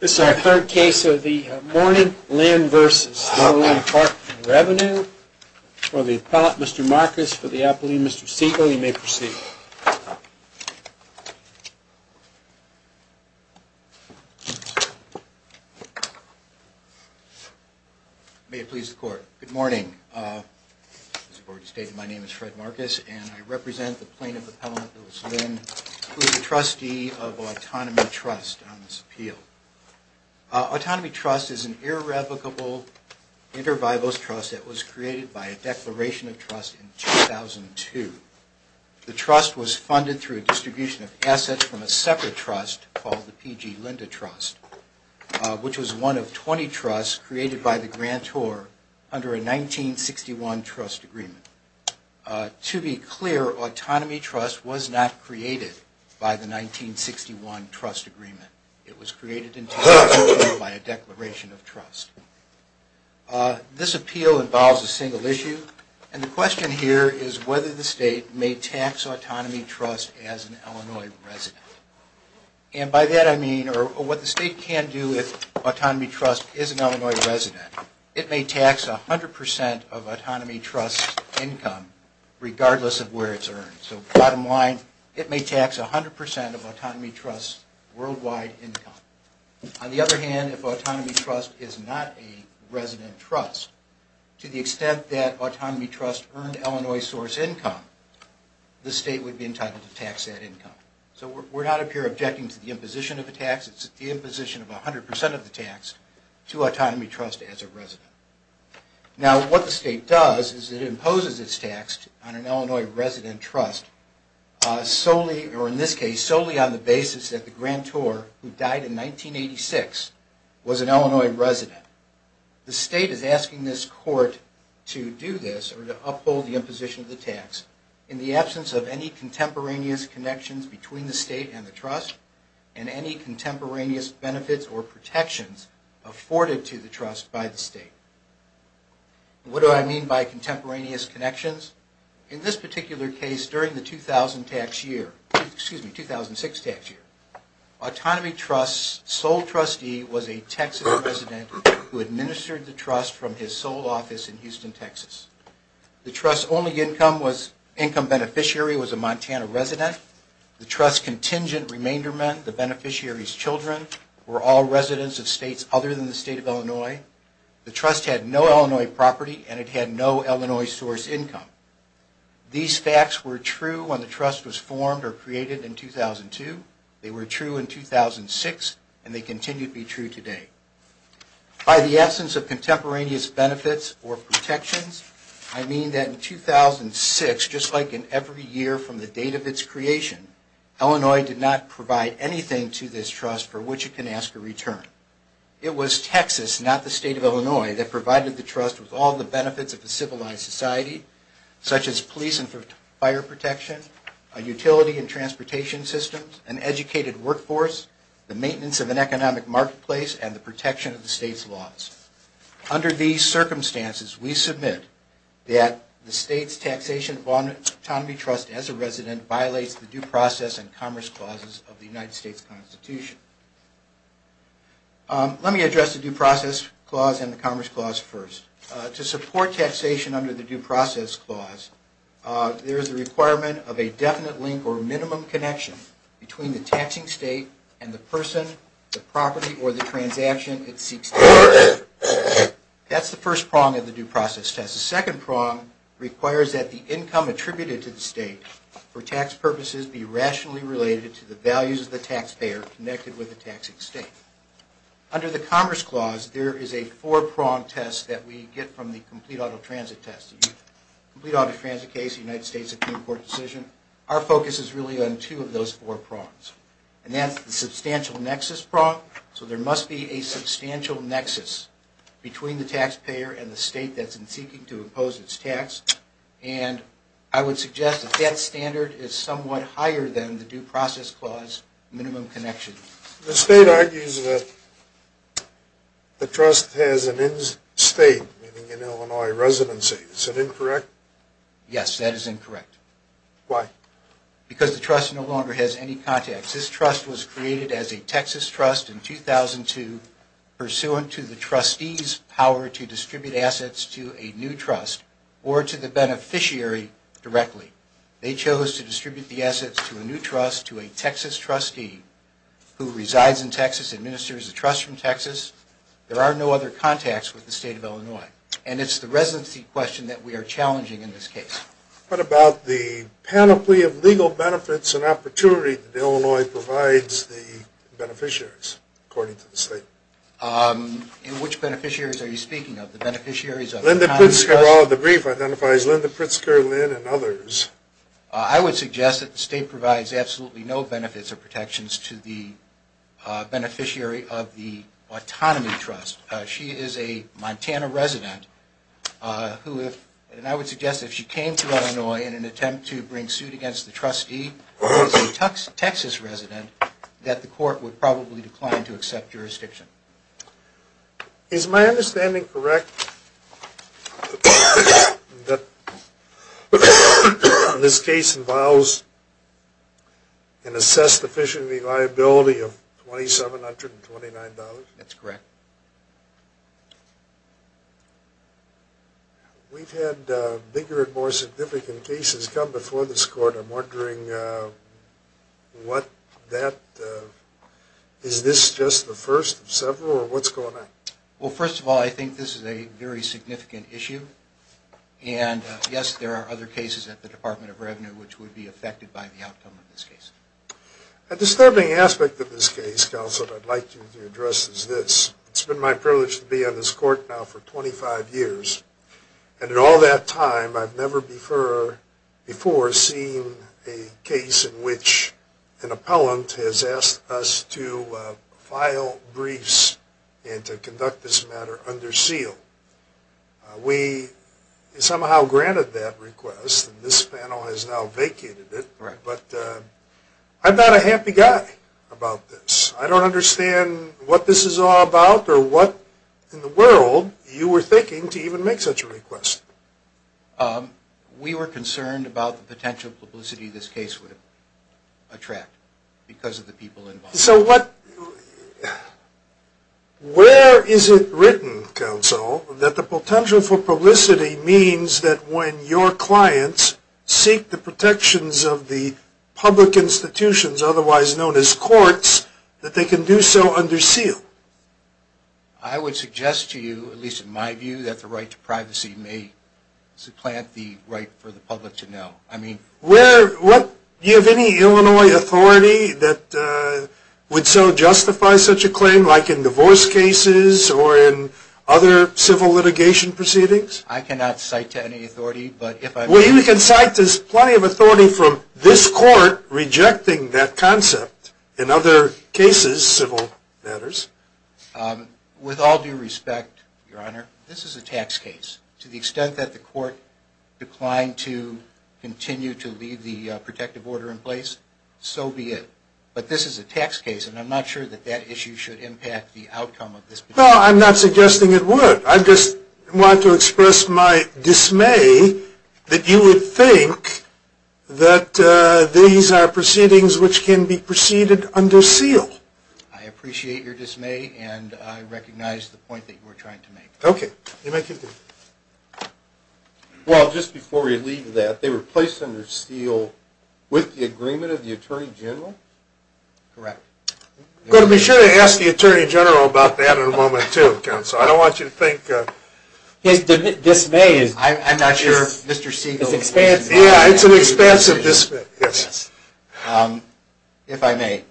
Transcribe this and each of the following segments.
This is our third case of the Morning Linn v. IL Dept of Revenue. For the Appellant, Mr. Marcus, for the Appellant, Mr. Siegel, you may proceed. May it please the Court. Good morning. Good morning. As the Board has stated, my name is Fred Marcus, and I represent the Plaintiff Appellant, Lewis Linn, who is a trustee of Autonomy Trust on this appeal. Autonomy Trust is an irrevocable intervivals trust that was created by a declaration of trust in 2002. The trust was funded through a distribution of assets from a separate trust called the P.G. Linda Trust, which was one of 20 trusts created by the grantor under a 1961 trust agreement. To be clear, Autonomy Trust was not created by the 1961 trust agreement. It was created in 2002 by a declaration of trust. This appeal involves a single issue, and the question here is whether the State may tax Autonomy Trust as an Illinois resident. And by that I mean, or what the State can do if Autonomy Trust is an Illinois resident, it may tax 100% of Autonomy Trust's income regardless of where it's earned. So bottom line, it may tax 100% of Autonomy Trust's worldwide income. On the other hand, if Autonomy Trust is not a resident trust, to the extent that Autonomy Trust earned Illinois source income, the State would be entitled to tax that income. So we're not up here objecting to the imposition of a tax. It's the imposition of 100% of the tax to Autonomy Trust as a resident. Now what the State does is it imposes its tax on an Illinois resident trust solely on the basis that the grantor, who died in 1986, was an Illinois resident. The State is asking this court to do this, or to uphold the imposition of the tax in the absence of any contemporaneous connections between the State and the trust, and any contemporaneous benefits or protections afforded to the trust by the State. What do I mean by contemporaneous connections? In this particular case, during the 2006 tax year, Autonomy Trust's sole trustee was a Texas resident who administered the trust from his sole office in Houston, Texas. The trust's only income beneficiary was a Montana resident. The trust's contingent remainderment, the beneficiary's children, were all residents of states other than the State of Illinois. The trust had no Illinois property, and it had no Illinois source income. These facts were true when the trust was formed or created in 2002. They were true in 2006, and they continue to be true today. By the absence of contemporaneous benefits or protections, I mean that in 2006, just like in every year from the date of its creation, Illinois did not provide anything to this trust for which it can ask a return. It was Texas, not the State of Illinois, that provided the trust with all the benefits of a civilized society, such as police and fire protection, a utility and transportation system, an educated workforce, the maintenance of an economic marketplace, and the protection of the State's laws. Under these circumstances, we submit that the State's Taxation of Autonomy Trust as a resident violates the Due Process and Commerce Clauses of the United States Constitution. Let me address the Due Process Clause and the Commerce Clause first. To support taxation under the Due Process Clause, there is a requirement of a definite link or minimum connection between the taxing state and the person, the property, or the transaction it seeks to tax. That's the first prong of the Due Process Clause. The second prong requires that the income attributed to the state for tax purposes be rationally related to the values of the taxpayer connected with the taxing state. Under the Commerce Clause, there is a four-pronged test that we get from the Complete Auto Transit case, the United States Supreme Court decision. Our focus is really on two of those four prongs, and that's the substantial nexus prong. So there must be a substantial nexus between the taxpayer and the state that's seeking to impose its tax, and I would suggest that that standard is somewhat higher than the Due Process Clause minimum connection. The state argues that the trust has an in-state, meaning an Illinois residency. Is that incorrect? Yes, that is incorrect. Why? Because the trust no longer has any contacts. This trust was created as a Texas trust in 2002 pursuant to the trustees' power to distribute assets to a new trust or to the beneficiary directly. They chose to distribute the assets to a new trust, to a Texas trustee who resides in Texas, administers the trust from Texas. There are no other contacts with the state of Illinois, and it's the residency question that we are challenging in this case. What about the panoply of legal benefits and opportunity that Illinois provides the beneficiaries, according to the state? Which beneficiaries are you speaking of? The beneficiaries of the Commerce Clause? The brief identifies Linda Pritzker, Lynn, and others. I would suggest that the state provides absolutely no benefits or protections to the beneficiary of the autonomy trust. She is a Montana resident, and I would suggest that if she came to Illinois in an attempt to bring suit against the trustee, who is a Texas resident, that the court would probably decline to accept jurisdiction. Is my understanding correct that this case involves an assessed efficiency liability of $2,729? That's correct. We've had bigger and more significant cases come before this court. I'm wondering, is this just the first of several, or what's going on? Well, first of all, I think this is a very significant issue. And yes, there are other cases at the Department of Revenue which would be affected by the outcome of this case. A disturbing aspect of this case, Counselor, that I'd like you to address is this. It's been my privilege to be on this court now for 25 years. And in all that time, I've never before seen a case in which an appellant has asked us to file briefs and to conduct this matter under seal. We somehow granted that request, and this panel has now vacated it. But I'm not a happy guy about this. I don't understand what this is all about or what in the world you were thinking to even make such a request. We were concerned about the potential publicity this case would attract because of the people involved. So where is it written, Counsel, that the potential for publicity means that when your clients seek the protections of the public institutions, otherwise known as courts, that they can do so under seal? I would suggest to you, at least in my view, that the right to privacy may supplant the right for the public to know. Do you have any Illinois authority that would so justify such a claim, like in divorce cases or in other civil litigation proceedings? I cannot cite to any authority. Well, you can cite to plenty of authority from this court rejecting that concept in other cases, civil matters. With all due respect, Your Honor, this is a tax case. To the extent that the court declined to continue to leave the protective order in place, so be it. But this is a tax case, and I'm not sure that that issue should impact the outcome of this. No, I'm not suggesting it would. I just want to express my dismay that you would think that these are proceedings which can be proceeded under seal. I appreciate your dismay, and I recognize the point that you are trying to make. Okay. Well, just before we leave that, they were placed under seal with the agreement of the Attorney General? Correct. Well, be sure to ask the Attorney General about that in a moment, too, Counsel. I don't want you to think... His dismay is... I'm not sure Mr. Siegel... Yeah, it's an expansive dismay. If I may.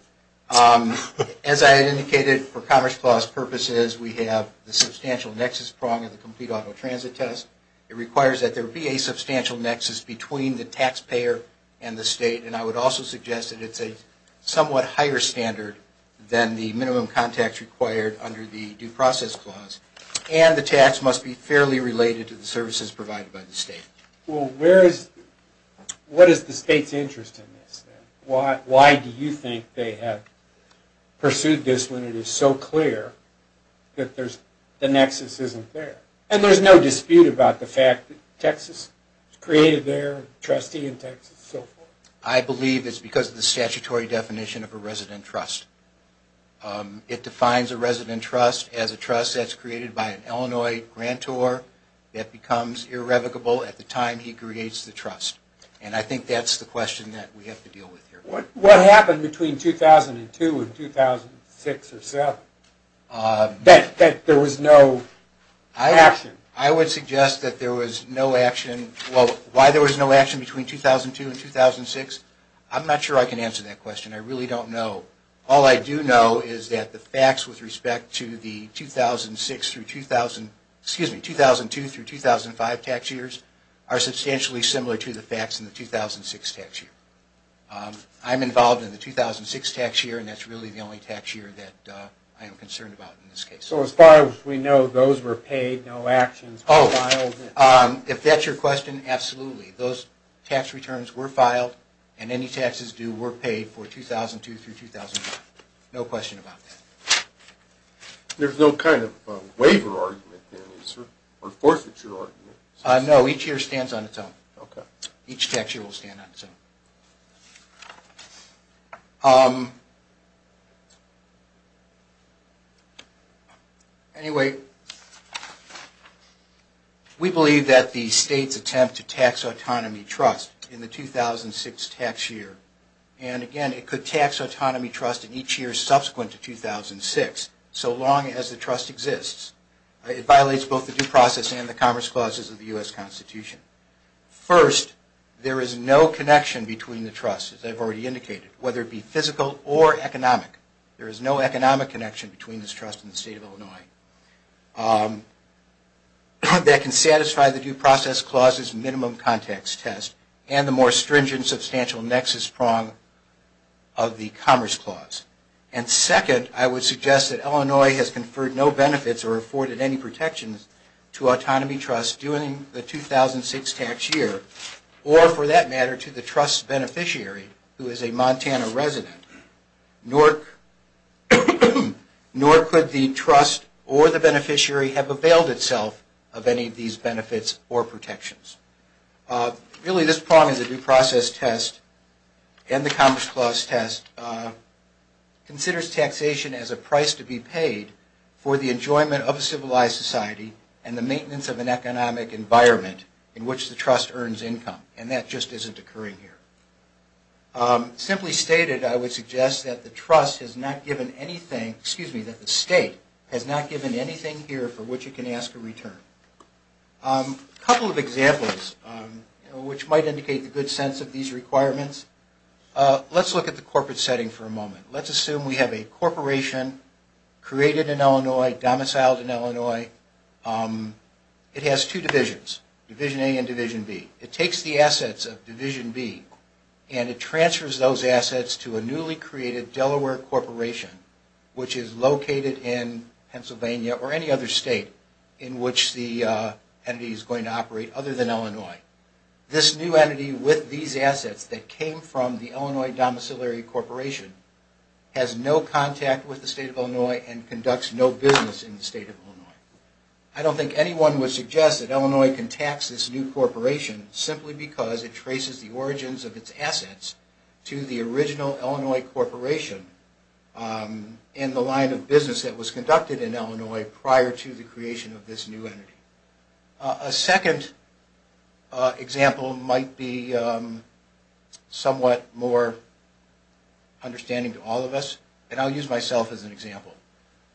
As I indicated, for Commerce Clause purposes, we have the substantial nexus prong of the complete auto transit test. It requires that there be a substantial nexus between the taxpayer and the state, and I would also suggest that it's a somewhat higher standard than the minimum contacts required under the Due Process Clause. And the tax must be fairly related to the services provided by the state. Well, where is... What is the state's interest in this? Why do you think they have pursued this when it is so clear that the nexus isn't there? And there's no dispute about the fact that Texas created their trustee in Texas and so forth? I believe it's because of the statutory definition of a resident trust. It defines a resident trust as a trust that's created by an Illinois grantor that becomes irrevocable at the time he creates the trust. And I think that's the question that we have to deal with here. What happened between 2002 and 2006 or so that there was no action? I would suggest that there was no action... Well, why there was no action between 2002 and 2006, I'm not sure I can answer that question. I really don't know. All I do know is that the facts with respect to the 2006 through 2000... Excuse me, 2002 through 2005 tax years are substantially similar to the facts in the 2006 tax year. I'm involved in the 2006 tax year, and that's really the only tax year that I am concerned about in this case. So as far as we know, those were paid, no actions were filed? Oh, if that's your question, absolutely. Those tax returns were filed, and any taxes due were paid for 2002 through 2005. No question about that. There's no kind of waiver argument, or forfeiture argument? No, each year stands on its own. Okay. Each tax year will stand on its own. Anyway, we believe that the states attempt to tax autonomy trust in the 2006 tax year, and again, it could tax autonomy trust in each year subsequent to 2006, so long as the trust exists. It violates both the due process and the commerce clauses of the U.S. Constitution. First, there is no connection between the trusts. As I've already indicated, whether it be physical or economic, there is no economic connection between this trust and the state of Illinois. That can satisfy the due process clause's minimum context test and the more stringent substantial nexus prong of the commerce clause. And second, I would suggest that Illinois has conferred no benefits or afforded any protections to autonomy trust during the 2006 tax year, or for that matter, to the trust's beneficiary, who is a Montana resident. Nor could the trust or the beneficiary have availed itself of any of these benefits or protections. Really, this prong in the due process test and the commerce clause test considers taxation as a price to be paid for the enjoyment of a civilized society and the maintenance of an economic environment in which the trust earns income, and that just isn't occurring here. Simply stated, I would suggest that the state has not given anything here for which it can ask a return. A couple of examples which might indicate the good sense of these requirements. Let's look at the corporate setting for a moment. Let's assume we have a corporation created in Illinois, domiciled in Illinois. It has two divisions, Division A and Division B. It takes the assets of Division B and it transfers those assets to a newly created Delaware corporation, which is located in Pennsylvania or any other state in which the entity is going to operate other than Illinois. This new entity with these assets that came from the Illinois Domiciliary Corporation has no contact with the state of Illinois and conducts no business in the state of Illinois. I don't think anyone would suggest that Illinois can tax this new corporation simply because it traces the origins of its assets to the original Illinois corporation in the line of business that was conducted in Illinois prior to the creation of this new entity. A second example might be somewhat more understanding to all of us, and I'll use myself as an example.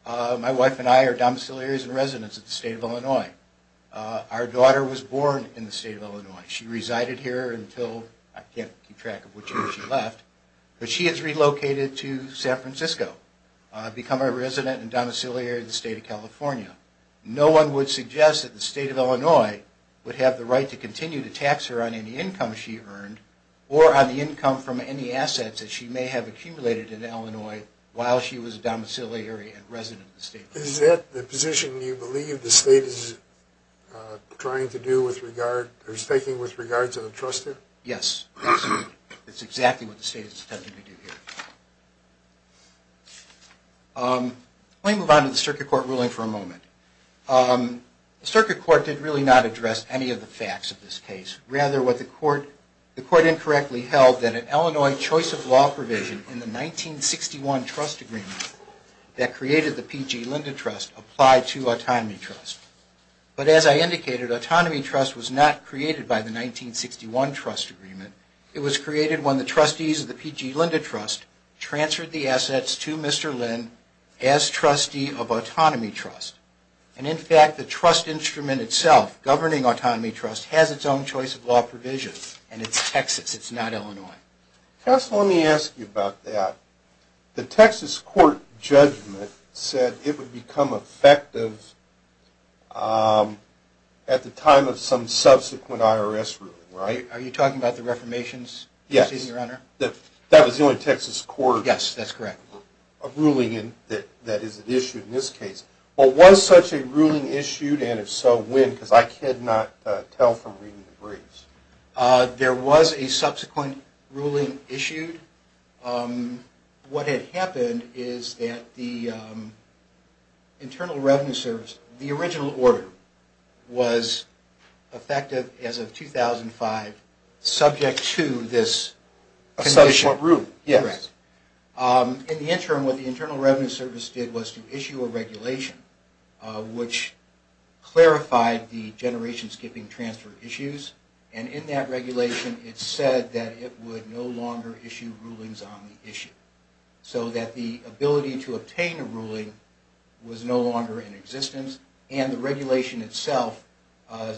My wife and I are domiciliaries and residents of the state of Illinois. Our daughter was born in the state of Illinois. She resided here until, I can't keep track of which year she left, but she has relocated to San Francisco to become a resident and domiciliary in the state of California. No one would suggest that the state of Illinois would have the right to continue to tax her on any income she earned or on the income from any assets that she may have accumulated in Illinois while she was a domiciliary and resident of the state of Illinois. Is that the position you believe the state is taking with regard to the trustee? Yes, that's exactly what the state is attempting to do here. Let me move on to the circuit court ruling for a moment. The circuit court did really not address any of the facts of this case. Rather, what the court incorrectly held that an Illinois choice of law provision in the 1961 trust agreement that created the P.G. Linda Trust applied to Autonomy Trust. But as I indicated, Autonomy Trust was not created by the 1961 trust agreement. It was created when the trustees of the P.G. Linda Trust transferred the assets to Mr. Lind as trustee of Autonomy Trust. And in fact, the trust instrument itself, governing Autonomy Trust, has its own choice of law provision, and it's Texas, it's not Illinois. Counsel, let me ask you about that. The Texas court judgment said it would become effective at the time of some subsequent IRS ruling, right? Are you talking about the reformations, your honor? Yes, that was the only Texas court ruling that is issued in this case. Was such a ruling issued, and if so, when? Because I could not tell from reading the briefs. There was a subsequent ruling issued. What had happened is that the Internal Revenue Service, the original order, was effective as of 2005, subject to this condition. A subsequent ruling, yes. In the interim, what the Internal Revenue Service did was to issue a regulation which clarified the generation skipping transfer issues, and in that regulation it said that it would no longer issue rulings on the issue. So that the ability to obtain a ruling was no longer in existence, and the regulation itself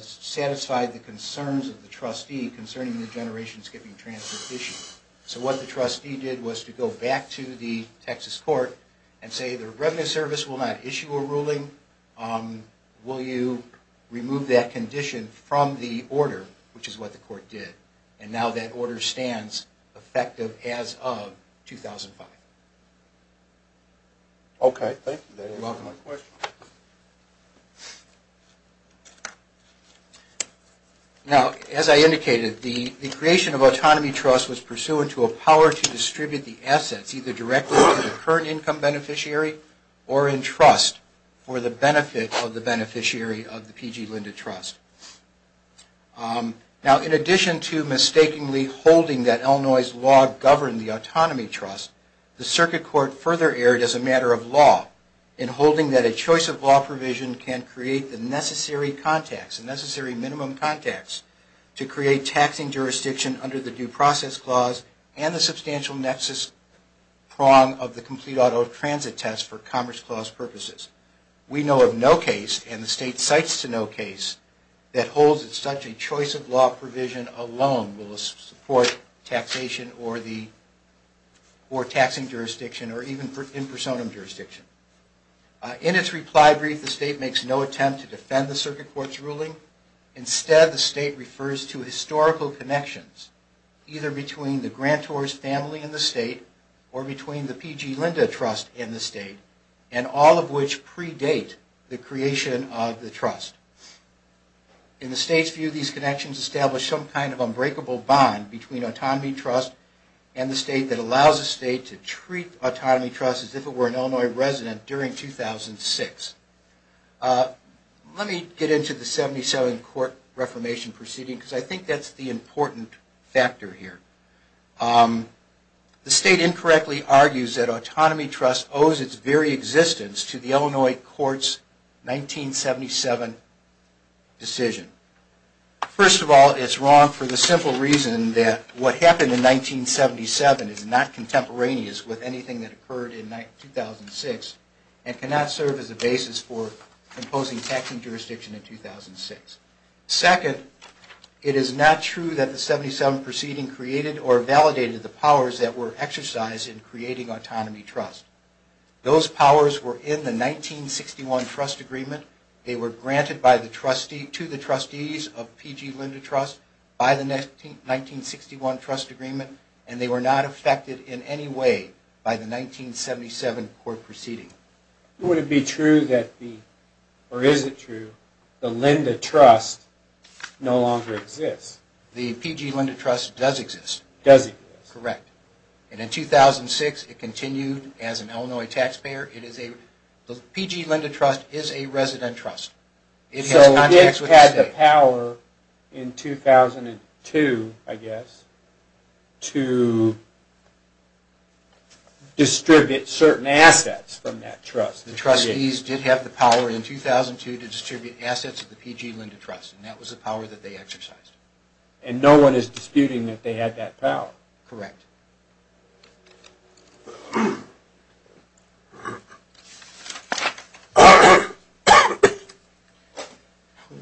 satisfied the concerns of the trustee concerning the generation skipping transfer issue. So what the trustee did was to go back to the Texas court and say, the Internal Revenue Service will not issue a ruling. Will you remove that condition from the order, which is what the court did? And now that order stands effective as of 2005. Okay, thank you. You're welcome. Now, as I indicated, the creation of Autonomy Trust was pursuant to a power to distribute the assets, either directly to the current income beneficiary, or in trust for the benefit of the beneficiary of the PG Lynda Trust. Now, in addition to mistakenly holding that Illinois' law governed the Autonomy Trust, the circuit court further erred as a matter of law in holding that a choice of law provision can create the necessary contacts, the necessary minimum contacts, to create taxing jurisdiction under the Due Process Clause and the substantial nexus prong of the Complete Auto Transit Test for Commerce Clause purposes. We know of no case, and the State cites to no case, that holds such a choice of law provision alone will support taxation or taxing jurisdiction, or even in personam jurisdiction. In its reply brief, the State makes no attempt to defend the circuit court's ruling. Instead, the State refers to historical connections, either between the grantor's family in the State, or between the PG Lynda Trust and the State, and all of which predate the creation of the Trust. In the State's view, these connections establish some kind of unbreakable bond between Autonomy Trust and the State that allows the State to treat Autonomy Trust as if it were an Illinois resident during 2006. Let me get into the 1977 Court Reformation proceeding, because I think that's the important factor here. The State incorrectly argues that Autonomy Trust owes its very existence to the Illinois Court's 1977 decision. First of all, it's wrong for the simple reason that what happened in 1977 is not contemporaneous with anything that occurred in 2006, and cannot serve as a basis for imposing taxing jurisdiction in 2006. Second, it is not true that the 1977 proceeding created or validated the powers that were exercised in creating Autonomy Trust. Those powers were in the 1961 Trust Agreement. They were granted to the trustees of PG Lynda Trust by the 1961 Trust Agreement, and they were not affected in any way by the 1977 court proceeding. Would it be true, or is it true, that the Lynda Trust no longer exists? The PG Lynda Trust does exist. Does exist. Correct. And in 2006, it continued as an Illinois taxpayer. The PG Lynda Trust is a resident trust. So it had the power in 2002, I guess, to distribute certain assets from that trust. The trustees did have the power in 2002 to distribute assets to the PG Lynda Trust, and that was the power that they exercised. And no one is disputing that they had that power. Correct.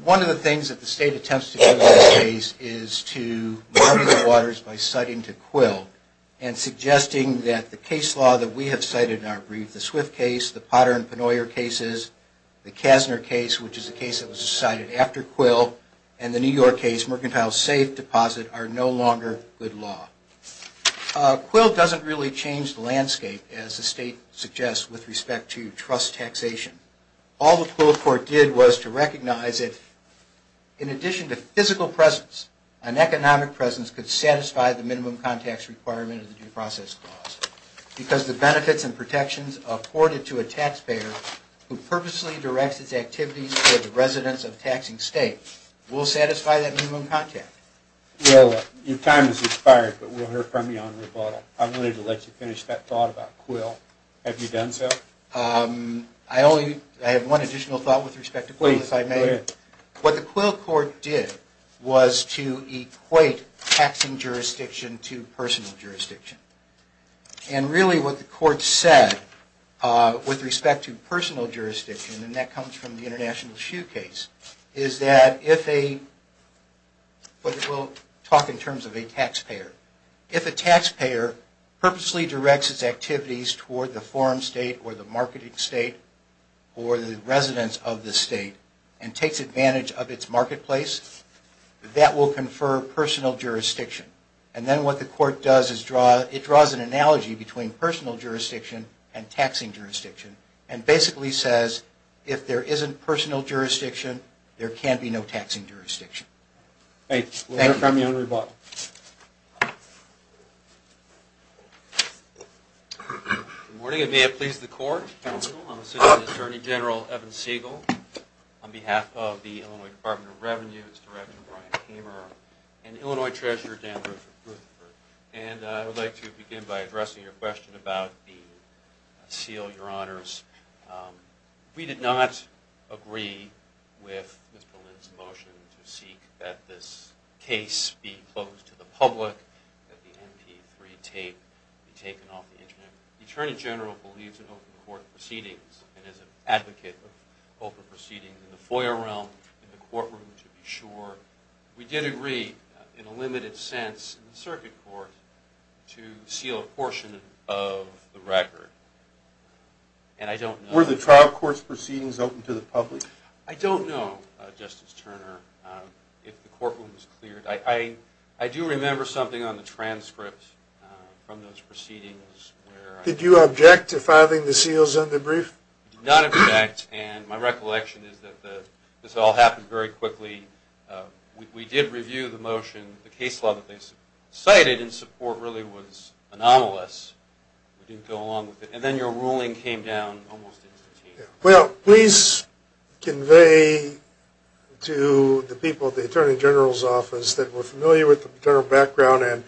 One of the things that the State attempts to do in this case is to mar the waters by citing to Quill, and suggesting that the case law that we have cited in our brief, the Swift case, the Potter and Penoyer cases, the Kassner case, which is a case that was decided after Quill, and the New York case, Mercantile Safe Deposit, are no longer good law. Quill doesn't really change the landscape, as the State suggests, with respect to trust taxation. All the Quill court did was to recognize that, in addition to physical presence, an economic presence could satisfy the minimum contacts requirement of the due process clause, because the benefits and protections afforded to a taxpayer who purposely directs its activities to the residents of taxing states will satisfy that minimum contact. Your time has expired, but we'll hear from you on rebuttal. I wanted to let you finish that thought about Quill. Have you done so? I have one additional thought with respect to Quill, if I may. Please, go ahead. What the Quill court did was to equate taxing jurisdiction to personal jurisdiction. Really, what the court said with respect to personal jurisdiction, and that comes from the International Shoe case, is that if a taxpayer purposely directs its activities toward the forum state or the marketing state or the residents of the state, and takes advantage of its marketplace, that will confer personal jurisdiction. Then what the court does is it draws an analogy between personal jurisdiction and taxing jurisdiction, and basically says if there isn't personal jurisdiction, there can be no taxing jurisdiction. We'll hear from you on rebuttal. Good morning, and may it please the court, I'm Assistant Attorney General Evan Siegel, on behalf of the Illinois Department of Revenue, and its Director Brian Kamer, and Illinois Treasurer Dan Rutherford. I would like to begin by addressing your question about the seal, Your Honors. We did not agree with Mr. Lin's motion to seek that this case be closed to the public, that the MP3 tape be taken off the Internet. The Attorney General believes in open court proceedings, and is an advocate of open proceedings in the FOIA realm, in the courtroom to be sure. We did agree, in a limited sense, in the circuit court, to seal a portion of the record. And I don't know... Were the trial court's proceedings open to the public? I don't know, Justice Turner, if the courtroom's cleared. I do remember something on the transcript from those proceedings where... Did you object to filing the seals on the brief? I did not object. And my recollection is that this all happened very quickly. We did review the motion. The case law that they cited in support really was anomalous. We didn't go along with it. And then your ruling came down almost instantaneously. Well, please convey to the people at the Attorney General's office that we're familiar with the Attorney General's background and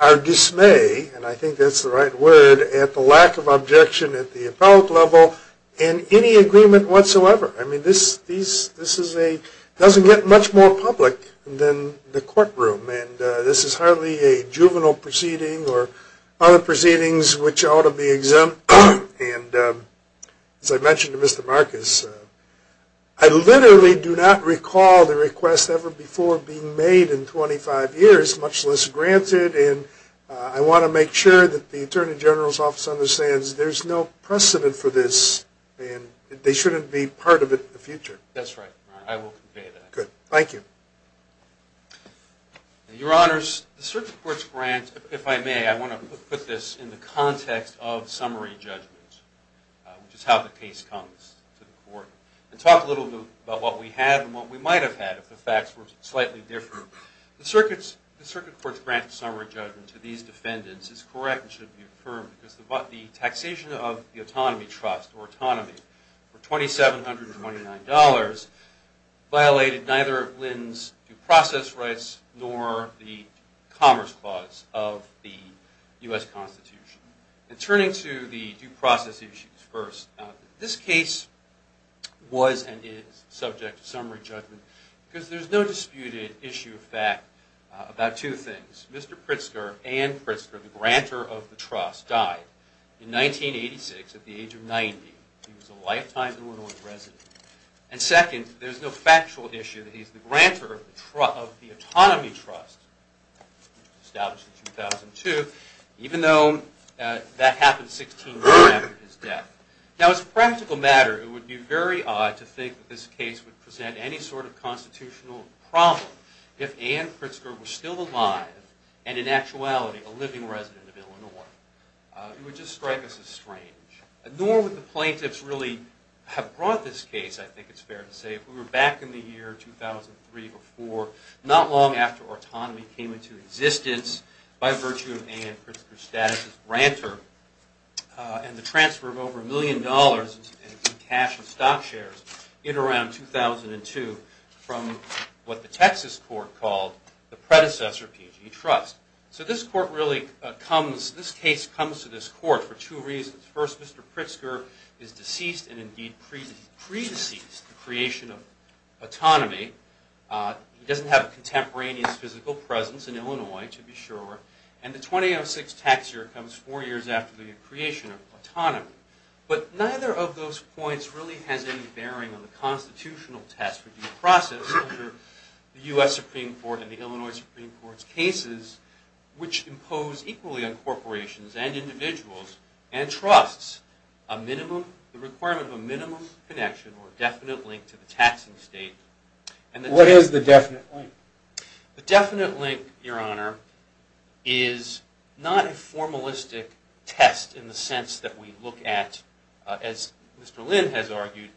our dismay, and I think that's the right word, at the lack of objection at the appellate level and any agreement whatsoever. I mean, this is a... It doesn't get much more public than the courtroom, and this is hardly a juvenile proceeding or other proceedings which ought to be exempt. And as I mentioned to Mr. Marcus, I literally do not recall the request ever before being made in 25 years, much less granted, and I want to make sure that the Attorney General's office understands there's no precedent for this, and they shouldn't be part of it in the future. That's right, Your Honor. I will convey that. Good. Thank you. Your Honors, the Circuit Court's grant, if I may, I want to put this in the context of summary judgment, which is how the case comes to the Court, and talk a little bit about what we had and what we might have had if the facts were slightly different. The Circuit Court's grant of summary judgment to these defendants is correct and should be affirmed because the taxation of the autonomy trust or autonomy for $2,729 violated neither Lynn's due process rights nor the commerce clause of the U.S. Constitution. And turning to the due process issues first, this case was and is subject to summary judgment because there's no disputed issue of fact about two things. Mr. Pritzker and Anne Pritzker, the grantor of the trust, died in 1986 at the age of 90. He was a lifetime Illinois resident. And second, there's no factual issue that he's the grantor of the autonomy trust established in 2002, even though that happened 16 years after his death. Now, as a practical matter, it would be very odd to think that this case would present any sort of constitutional problem if Anne Pritzker were still alive and, in actuality, a living resident of Illinois. It would just strike us as strange. Nor would the plaintiffs really have brought this case, I think it's fair to say, if we were back in the year 2003 or 2004, not long after autonomy came into existence by virtue of Anne Pritzker's status as grantor and the transfer of over a million dollars in cash and stock shares in around 2002 from what the Texas court called the predecessor PG trust. So this court really comes, this case comes to this court for two reasons. First, Mr. Pritzker is deceased and, indeed, pre-deceased, the creation of autonomy. He doesn't have a contemporaneous physical presence in Illinois, to be sure. And the 2006 tax year comes four years after the creation of autonomy. But neither of those points really has any bearing on the constitutional test for due process under the U.S. Supreme Court and the Illinois Supreme Court's cases, which impose equally on corporations and individuals and trusts the requirement of a minimum connection or definite link to the taxing state. What is the definite link? The definite link, Your Honor, is not a formalistic test in the sense that we look at, as Mr. Lynn has argued,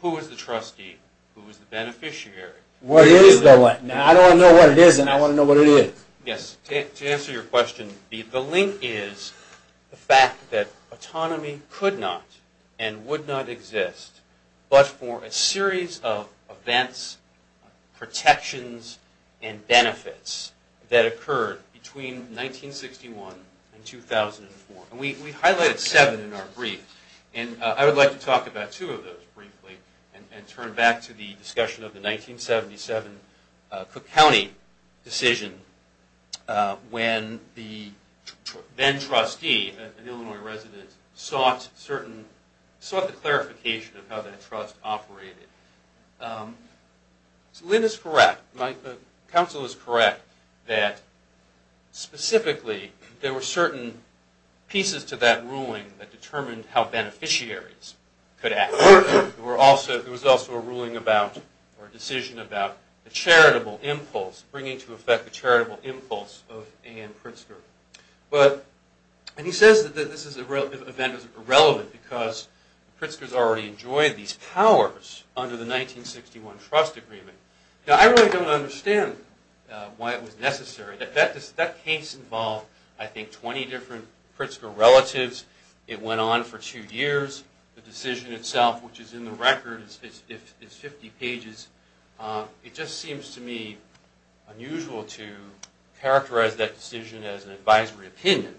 who is the trustee, who is the beneficiary. What is the link? I don't want to know what it is, and I want to know what it is. Yes, to answer your question, the link is the fact that autonomy could not and would not exist but for a series of events, protections, and benefits that occurred between 1961 and 2004. We highlighted seven in our brief, and I would like to talk about two of those briefly and turn back to the discussion of the 1977 Cook County decision when the then-trustee, an Illinois resident, sought the clarification of how that trust operated. Lynn is correct, my counsel is correct, that specifically there were certain pieces to that ruling that determined how beneficiaries could act. There was also a ruling about, or a decision about, the charitable impulse, bringing to effect the charitable impulse of A. N. Pritzker. But, and he says that this event is irrelevant because Pritzker's already enjoyed these powers under the 1961 trust agreement. Now, I really don't understand why it was necessary. That case involved, I think, 20 different Pritzker relatives. It went on for two years. The decision itself, which is in the record, is 50 pages. It just seems to me unusual to characterize that decision as an advisory opinion.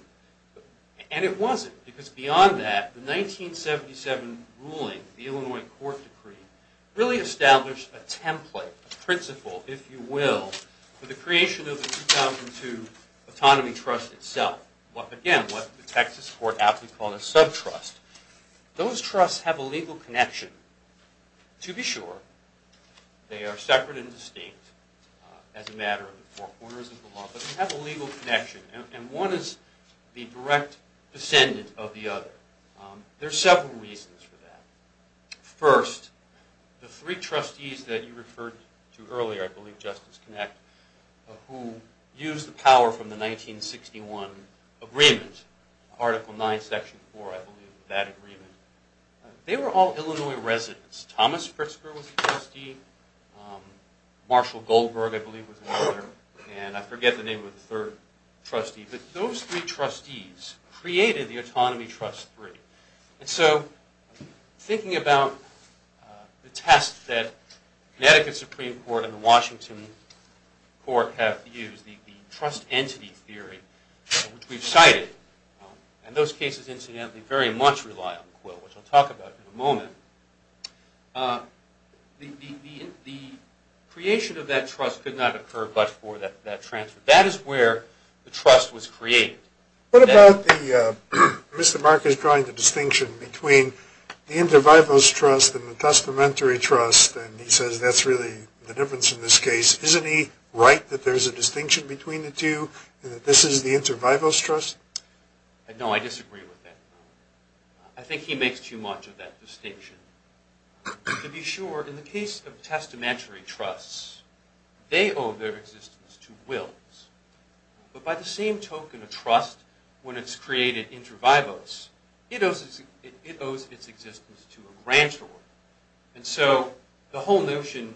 And it wasn't, because beyond that, the 1977 ruling, the Illinois court decree, really established a template, a principle, if you will, for the creation of the 2002 autonomy trust itself. Again, what the Texas court aptly called a sub-trust. Those trusts have a legal connection. To be sure, they are separate and distinct as a matter of the four corners of the law, but they have a legal connection, and one is the direct descendant of the other. There are several reasons for that. First, the three trustees that you referred to earlier, I believe Justice Kinect, who used the power from the 1961 agreement, Article 9, Section 4, I believe, that agreement. They were all Illinois residents. Thomas Pritzker was a trustee. Marshall Goldberg, I believe, was another. And I forget the name of the third trustee. But those three trustees created the Autonomy Trust 3. And so thinking about the test that Connecticut Supreme Court and the Washington court have used, the trust entity theory, which we've cited, and those cases, incidentally, very much rely on Quill, which I'll talk about in a moment, the creation of that trust could not occur but for that transfer. That is where the trust was created. What about the Mr. Marcus drawing the distinction between the inter vivos trust and the testamentary trust, and he says that's really the difference in this case. Isn't he right that there's a distinction between the two and that this is the inter vivos trust? No, I disagree with that. I think he makes too much of that distinction. To be sure, in the case of testamentary trusts, they owe their existence to Quills. But by the same token of trust, when it's created inter vivos, it owes its existence to a grantor. And so the whole notion,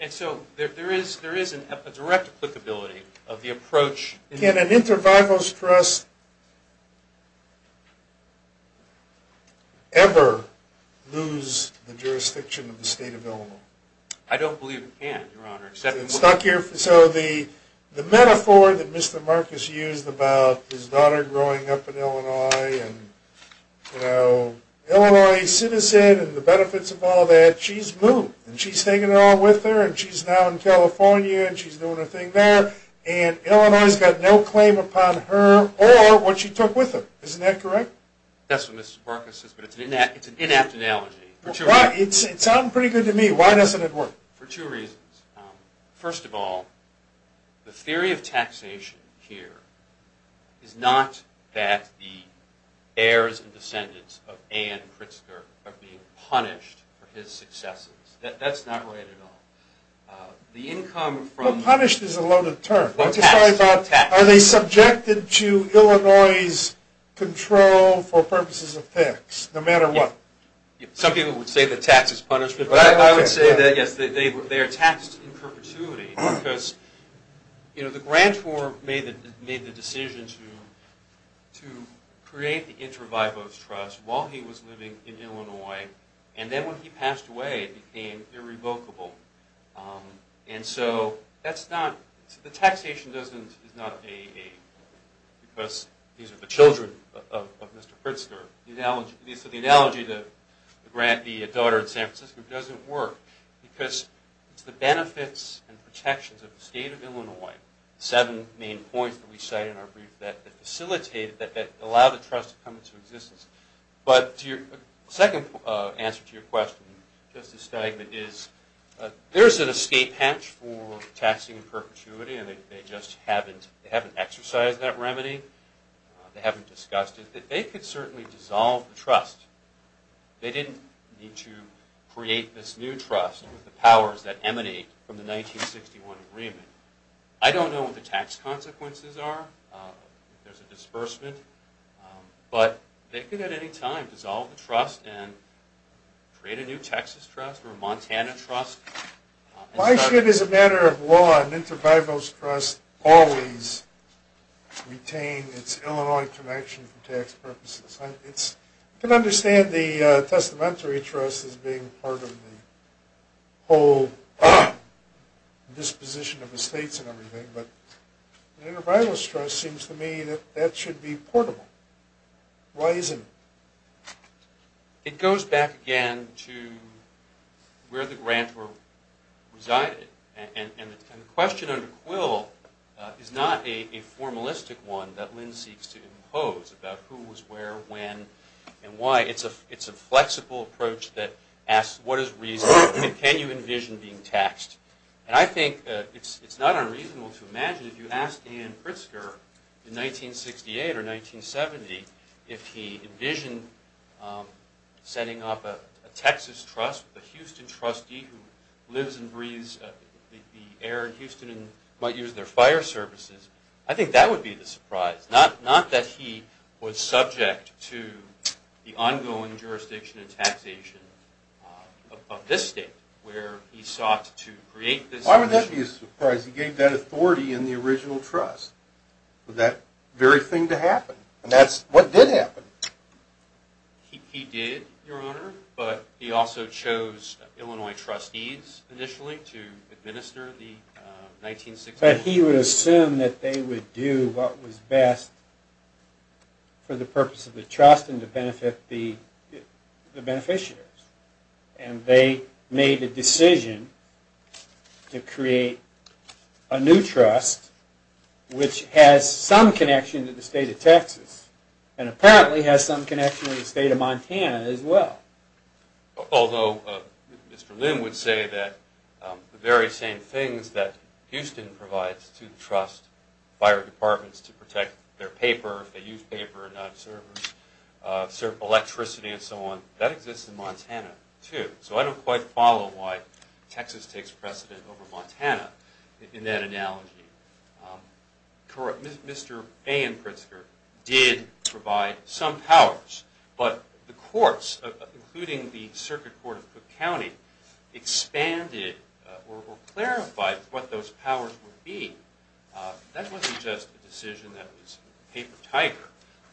and so there is a direct applicability of the approach. Can an inter vivos trust ever lose the jurisdiction of the state of Illinois? I don't believe it can, Your Honor. So the metaphor that Mr. Marcus used about his daughter growing up in Illinois and Illinois citizen and the benefits of all that, she's moved and she's taken it all with her and she's now in California and she's doing her thing there, and Illinois has got no claim upon her or what she took with her. Isn't that correct? That's what Mr. Marcus says, but it's an inapt analogy. It sounded pretty good to me. Why doesn't it work? For two reasons. First of all, the theory of taxation here is not that the heirs and descendants of Ann Pritzker are being punished for his successes. That's not right at all. Punished is a loaded term. Are they subjected to Illinois' control for purposes of tax, no matter what? Some people would say that tax is punishment. I would say that, yes, they are taxed in perpetuity because the grantor made the decision to create the Intra-Vivos Trust while he was living in Illinois, and then when he passed away it became irrevocable. And so the taxation is not AA because these are the children of Mr. Pritzker. The analogy of the daughter in San Francisco doesn't work because it's the benefits and protections of the state of Illinois, the seven main points that we cite in our brief that facilitate, that allow the trust to come into existence. But the second answer to your question, Justice Steigman, is there's an escape hatch for taxing in perpetuity, and they just haven't exercised that remedy. They haven't discussed it. I think that they could certainly dissolve the trust. They didn't need to create this new trust with the powers that emanate from the 1961 agreement. I don't know what the tax consequences are, if there's a disbursement, but they could at any time dissolve the trust and create a new Texas trust or a Montana trust. Why should, as a matter of law, an intervivalist trust always retain its Illinois connection for tax purposes? I can understand the testamentary trust as being part of the whole disposition of the states and everything, but an intervivalist trust seems to me that that should be portable. Why isn't it? It goes back again to where the grantor resided, and the question under Quill is not a formalistic one that Lynn seeks to impose about who was where, when, and why. It's a flexible approach that asks, what is reason, and can you envision being taxed? And I think it's not unreasonable to imagine, if you ask Dan Pritzker in 1968 or 1970, if he envisioned setting up a Texas trust with a Houston trustee who lives and breathes the air in Houston and might use their fire services, I think that would be the surprise. Not that he was subject to the ongoing jurisdiction and taxation of this state, where he sought to create this. Why would that be a surprise? He gave that authority in the original trust for that very thing to happen. And that's what did happen. He did, Your Honor, but he also chose Illinois trustees initially to administer the 1960s. But he would assume that they would do what was best for the purpose of the trust and to benefit the beneficiaries. And they made the decision to create a new trust which has some connection to the state of Texas and apparently has some connection to the state of Montana as well. Although Mr. Lynn would say that the very same things that Houston provides to the trust, fire departments to protect their paper, if they use paper and not servers, serve electricity and so on, that exists in Montana too. So I don't quite follow why Texas takes precedent over Montana in that analogy. Mr. A. N. Pritzker did provide some powers, but the courts, including the Circuit Court of Cook County, expanded or clarified what those powers would be. That wasn't just a decision that was paper tiger.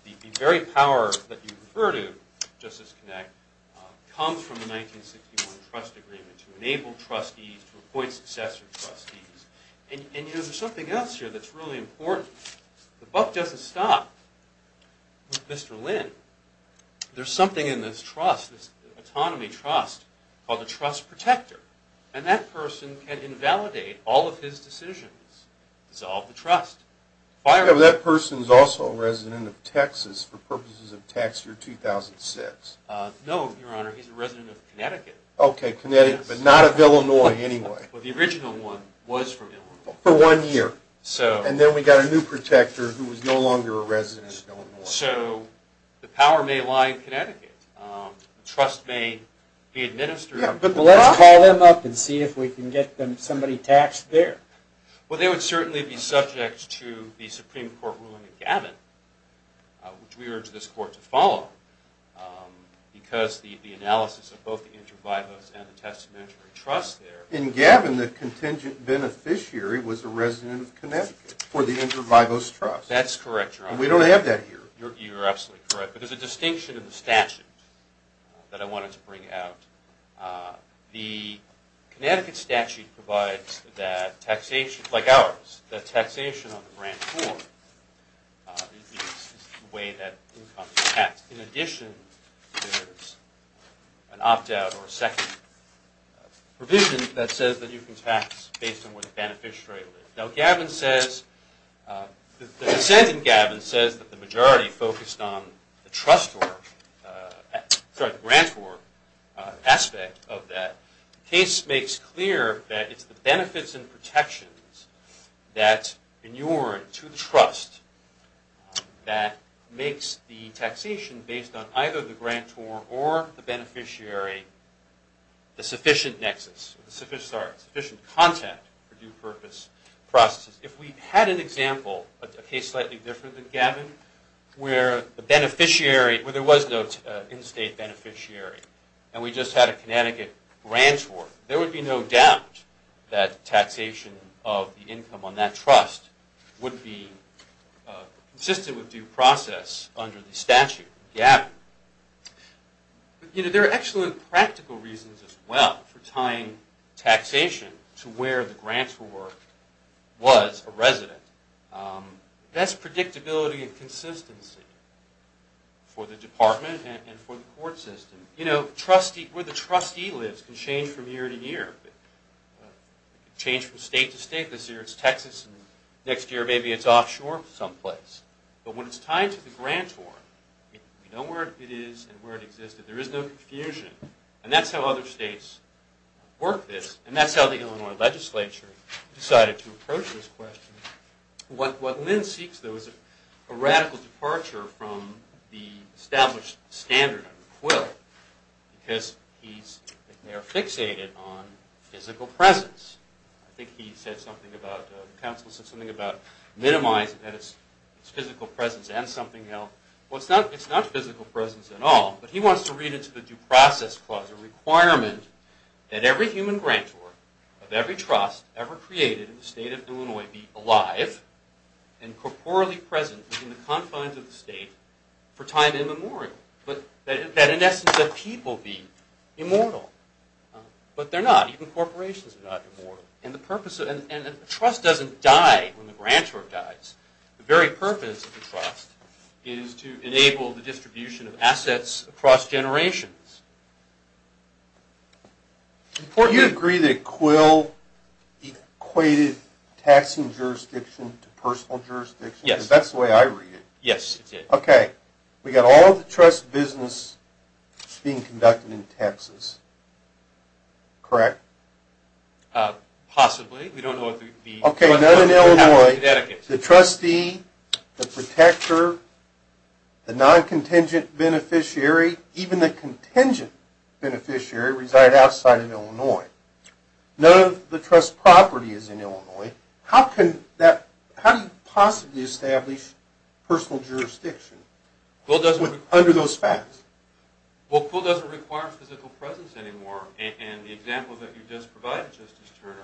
The very power that you refer to, Justice Kinect, comes from the 1961 trust agreement to enable trustees to appoint successor trustees. And there's something else here that's really important. The buck doesn't stop with Mr. Lynn. There's something in this trust, this autonomy trust, called the trust protector, and that person can invalidate all of his decisions, dissolve the trust. That person is also a resident of Texas for purposes of tax year 2006. No, Your Honor, he's a resident of Connecticut. Okay, Connecticut, but not of Illinois anyway. The original one was from Illinois. For one year. So the power may lie in Connecticut. The trust may be administered. Let's call them up and see if we can get somebody taxed there. Well, they would certainly be subject to the Supreme Court ruling in Gavin, which we urge this court to follow because the analysis of both the inter vivos and the testamentary trust there. In Gavin, the contingent beneficiary was a resident of Connecticut for the inter vivos trust. That's correct, Your Honor. We don't have that here. You're absolutely correct. But there's a distinction in the statute that I wanted to bring out. The Connecticut statute provides that taxation, like ours, that taxation on the grant form is the way that income is taxed. In addition, there's an opt-out or a second provision that says that you can tax based on where the beneficiary lives. Now Gavin says, the dissent in Gavin says that the majority focused on the trust form, sorry, the grant form aspect of that. The case makes clear that it's the benefits and protections that inure to the trust that makes the taxation based on either the grant form or the beneficiary, the sufficient nexus, sorry, sufficient content for due purpose processes. If we had an example, a case slightly different than Gavin, where the beneficiary, where there was no in-state beneficiary and we just had a Connecticut grant form, there would be no doubt that taxation of the income on that trust would be consistent with due process under the statute in Gavin. You know, there are excellent practical reasons as well for tying taxation to where the grant form was a resident. Best predictability and consistency for the department and for the court system. You know, where the trustee lives can change from year to year. It can change from state to state. This year it's Texas and next year maybe it's offshore someplace. But when it's tied to the grant form, we know where it is and where it existed. There is no confusion. And that's how other states work this. And that's how the Illinois legislature decided to approach this question. What Lynn seeks, though, is a radical departure from the established standard under Quill because they are fixated on physical presence. I think the council said something about minimizing physical presence and something else. Well, it's not physical presence at all, but he wants to read into the due process clause a requirement that every human grantor of every trust ever created in the state of Illinois be alive and corporally present in the confines of the state for time immemorial. That in essence, that people be immortal. But they're not. Even corporations are not immortal. And a trust doesn't die when the grantor dies. The very purpose of the trust is to enable the distribution of assets across generations. Do you agree that Quill equated taxing jurisdiction to personal jurisdiction? Yes. Because that's the way I read it. Yes, it did. Okay. We've got all of the trust business being conducted in Texas. Correct? Possibly. We don't know if the... Okay, none in Illinois. The trustee, the protector, the non-contingent beneficiary, even the contingent beneficiary reside outside of Illinois. None of the trust property is in Illinois. How do you possibly establish personal jurisdiction under those facts? Well, Quill doesn't require physical presence anymore. And the example that you just provided, Justice Turner,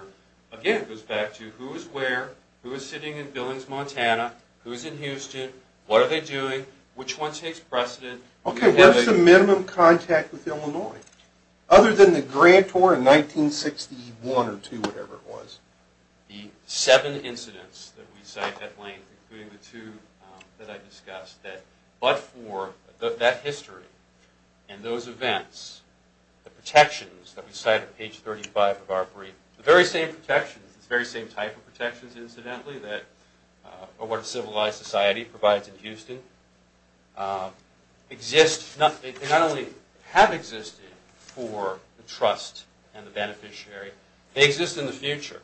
again, goes back to who is where, who is sitting in Billings, Montana, who is in Houston, what are they doing, which one takes precedent. Okay, where is the minimum contact with Illinois? Other than the grantor in 1961 or two, whatever it was. The seven incidents that we cite at length, including the two that I discussed, but for that history and those events, the protections that we cite on page 35 of our brief, the very same protections, the very same type of protections, incidentally, that are what a civilized society provides in Houston, exist, they not only have existed for the trust and the beneficiary, they exist in the future.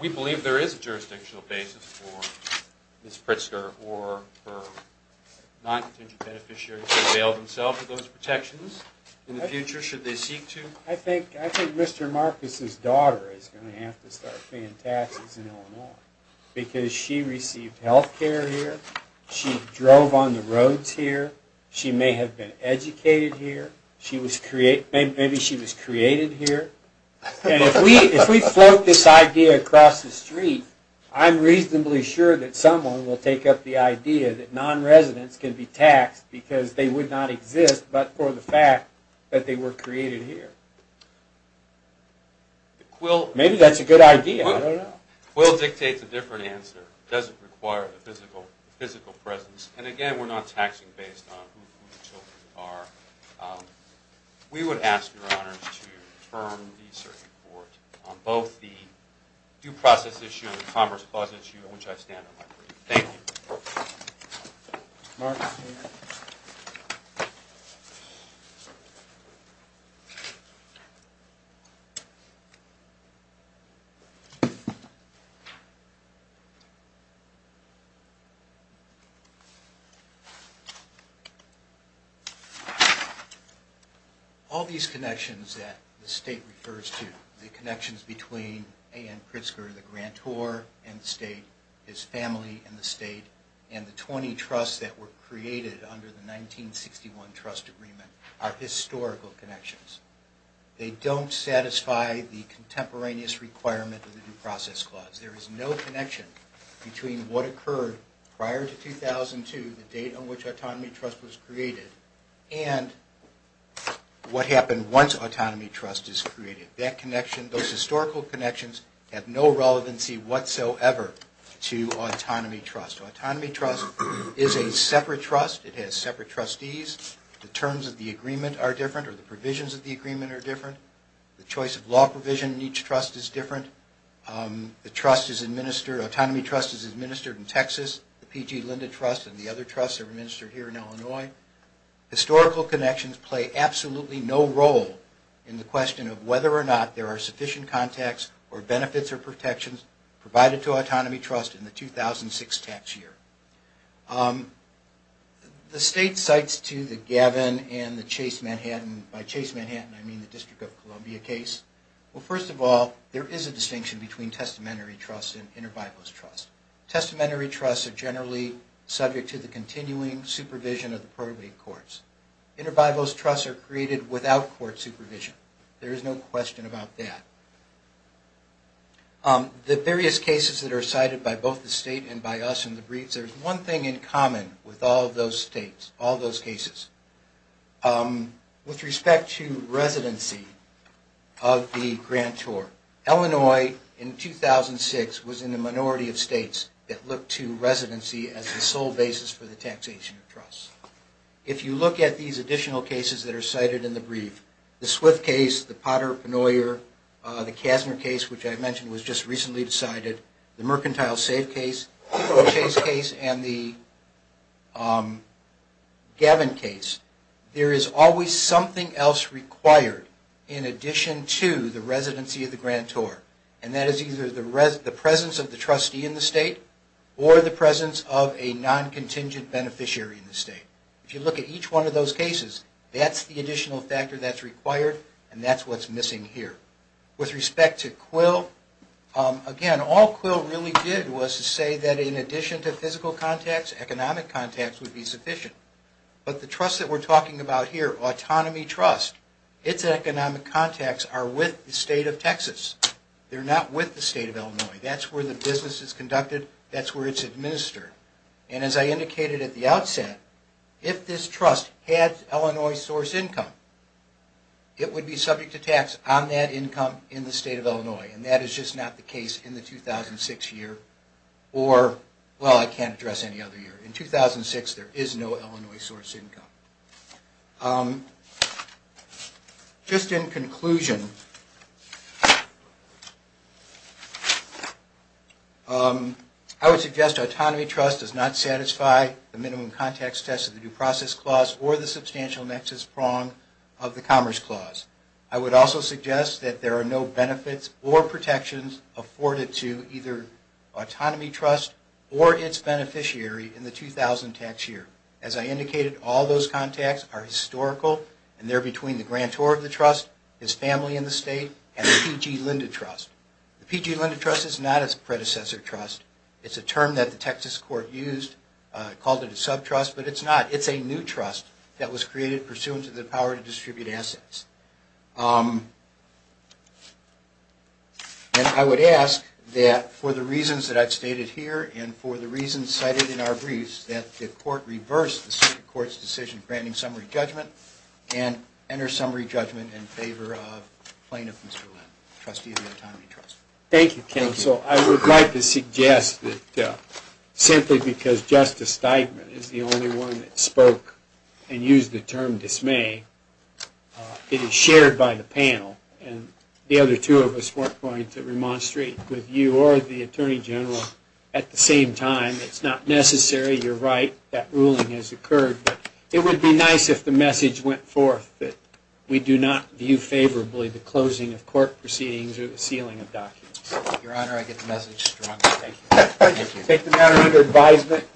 We believe there is a jurisdictional basis for Ms. Pritzker or her non-contingent beneficiary to avail themselves of those protections in the future, should they seek to. I think Mr. Marcus' daughter is going to have to start paying taxes in Illinois because she received health care here, she drove on the roads here, she may have been educated here, maybe she was created here. And if we float this idea across the street, I'm reasonably sure that someone will take up the idea that non-residents can be taxed because they would not exist but for the fact that they were created here. Maybe that's a good idea, I don't know. Quill dictates a different answer. It doesn't require the physical presence. And again, we're not taxing based on who the children are. We would ask your honors to term the circuit court on both the due process issue and the commerce clause issue on which I stand on my brief. Thank you. Mark's here. All these connections that the state refers to, the connections between A.N. Pritzker, the grantor and the state, his family and the state, and the 20 trusts that were created under the 1961 trust agreement are historical connections. They don't satisfy the contemporaneous requirement of the due process clause. There is no connection between what occurred prior to 2002, the date on which Autonomy Trust was created, those historical connections have no relevancy whatsoever to Autonomy Trust. Autonomy Trust is a separate trust. It has separate trustees. The terms of the agreement are different or the provisions of the agreement are different. The choice of law provision in each trust is different. The trust is administered, Autonomy Trust is administered in Texas. The P.G. Linda Trust and the other trusts are administered here in Illinois. Historical connections play absolutely no role in the question of whether or not there are sufficient contacts or benefits or protections provided to Autonomy Trust in the 2006 tax year. The state cites to the Gavin and the Chase Manhattan, by Chase Manhattan I mean the District of Columbia case. Well, first of all, there is a distinction between testamentary trusts and interbiposal trusts. Testamentary trusts are generally subject to the continuing supervision of the probate courts. Interbiposal trusts are created without court supervision. There is no question about that. The various cases that are cited by both the state and by us in the briefs, there is one thing in common with all those states, all those cases. With respect to residency of the grantor, Illinois in 2006 was in the minority of states. There were no states that looked to residency as the sole basis for the taxation of trusts. If you look at these additional cases that are cited in the brief, the Swift case, the Potter-Pannoyer, the Kasner case, which I mentioned was just recently decided, the Mercantile Safe case, the Chase case, and the Gavin case, there is always something else required in addition to the residency of the grantor. And that is either the presence of the trustee in the state or the presence of a non-contingent beneficiary in the state. If you look at each one of those cases, that's the additional factor that's required and that's what's missing here. With respect to Quill, again, all Quill really did was to say that in addition to physical contacts, economic contacts would be sufficient. But the trust that we're talking about here, Autonomy Trust, its economic contacts are with the state of Texas. They're not with the state of Illinois. That's where the business is conducted, that's where it's administered. And as I indicated at the outset, if this trust had Illinois source income, it would be subject to tax on that income in the state of Illinois. And that is just not the case in the 2006 year or, well, I can't address any other year. In 2006, there is no Illinois source income. Just in conclusion, I would suggest Autonomy Trust does not satisfy the minimum contacts test of the Due Process Clause or the substantial nexus prong of the Commerce Clause. I would also suggest that there are no benefits or protections afforded to either Autonomy Trust or its beneficiary in the 2000 tax year. As I indicated, all those contacts are historical and they're between the grantor of the trust, his family in the state, and the P.G. Lyndon Trust. The P.G. Lyndon Trust is not its predecessor trust. It's a term that the Texas court used, called it a sub-trust, but it's not. that was created pursuant to the power to distribute assets. And I would ask that for the reasons that I've stated here and for the reasons cited in our briefs, that the court reverse the court's decision granting summary judgment and enter summary judgment in favor of plaintiff Mr. Lyndon, trustee of the Autonomy Trust. Thank you, Counsel. I would like to suggest that simply because Justice Steigman is the only one that spoke and used the term dismay, it is shared by the panel. And the other two of us weren't going to remonstrate with you or the Attorney General at the same time. It's not necessary. You're right. That ruling has occurred. But it would be nice if the message went forth that we do not view favorably the closing of court proceedings or the sealing of documents. Your Honor, I get the message strongly. Thank you. Take the matter under advisement.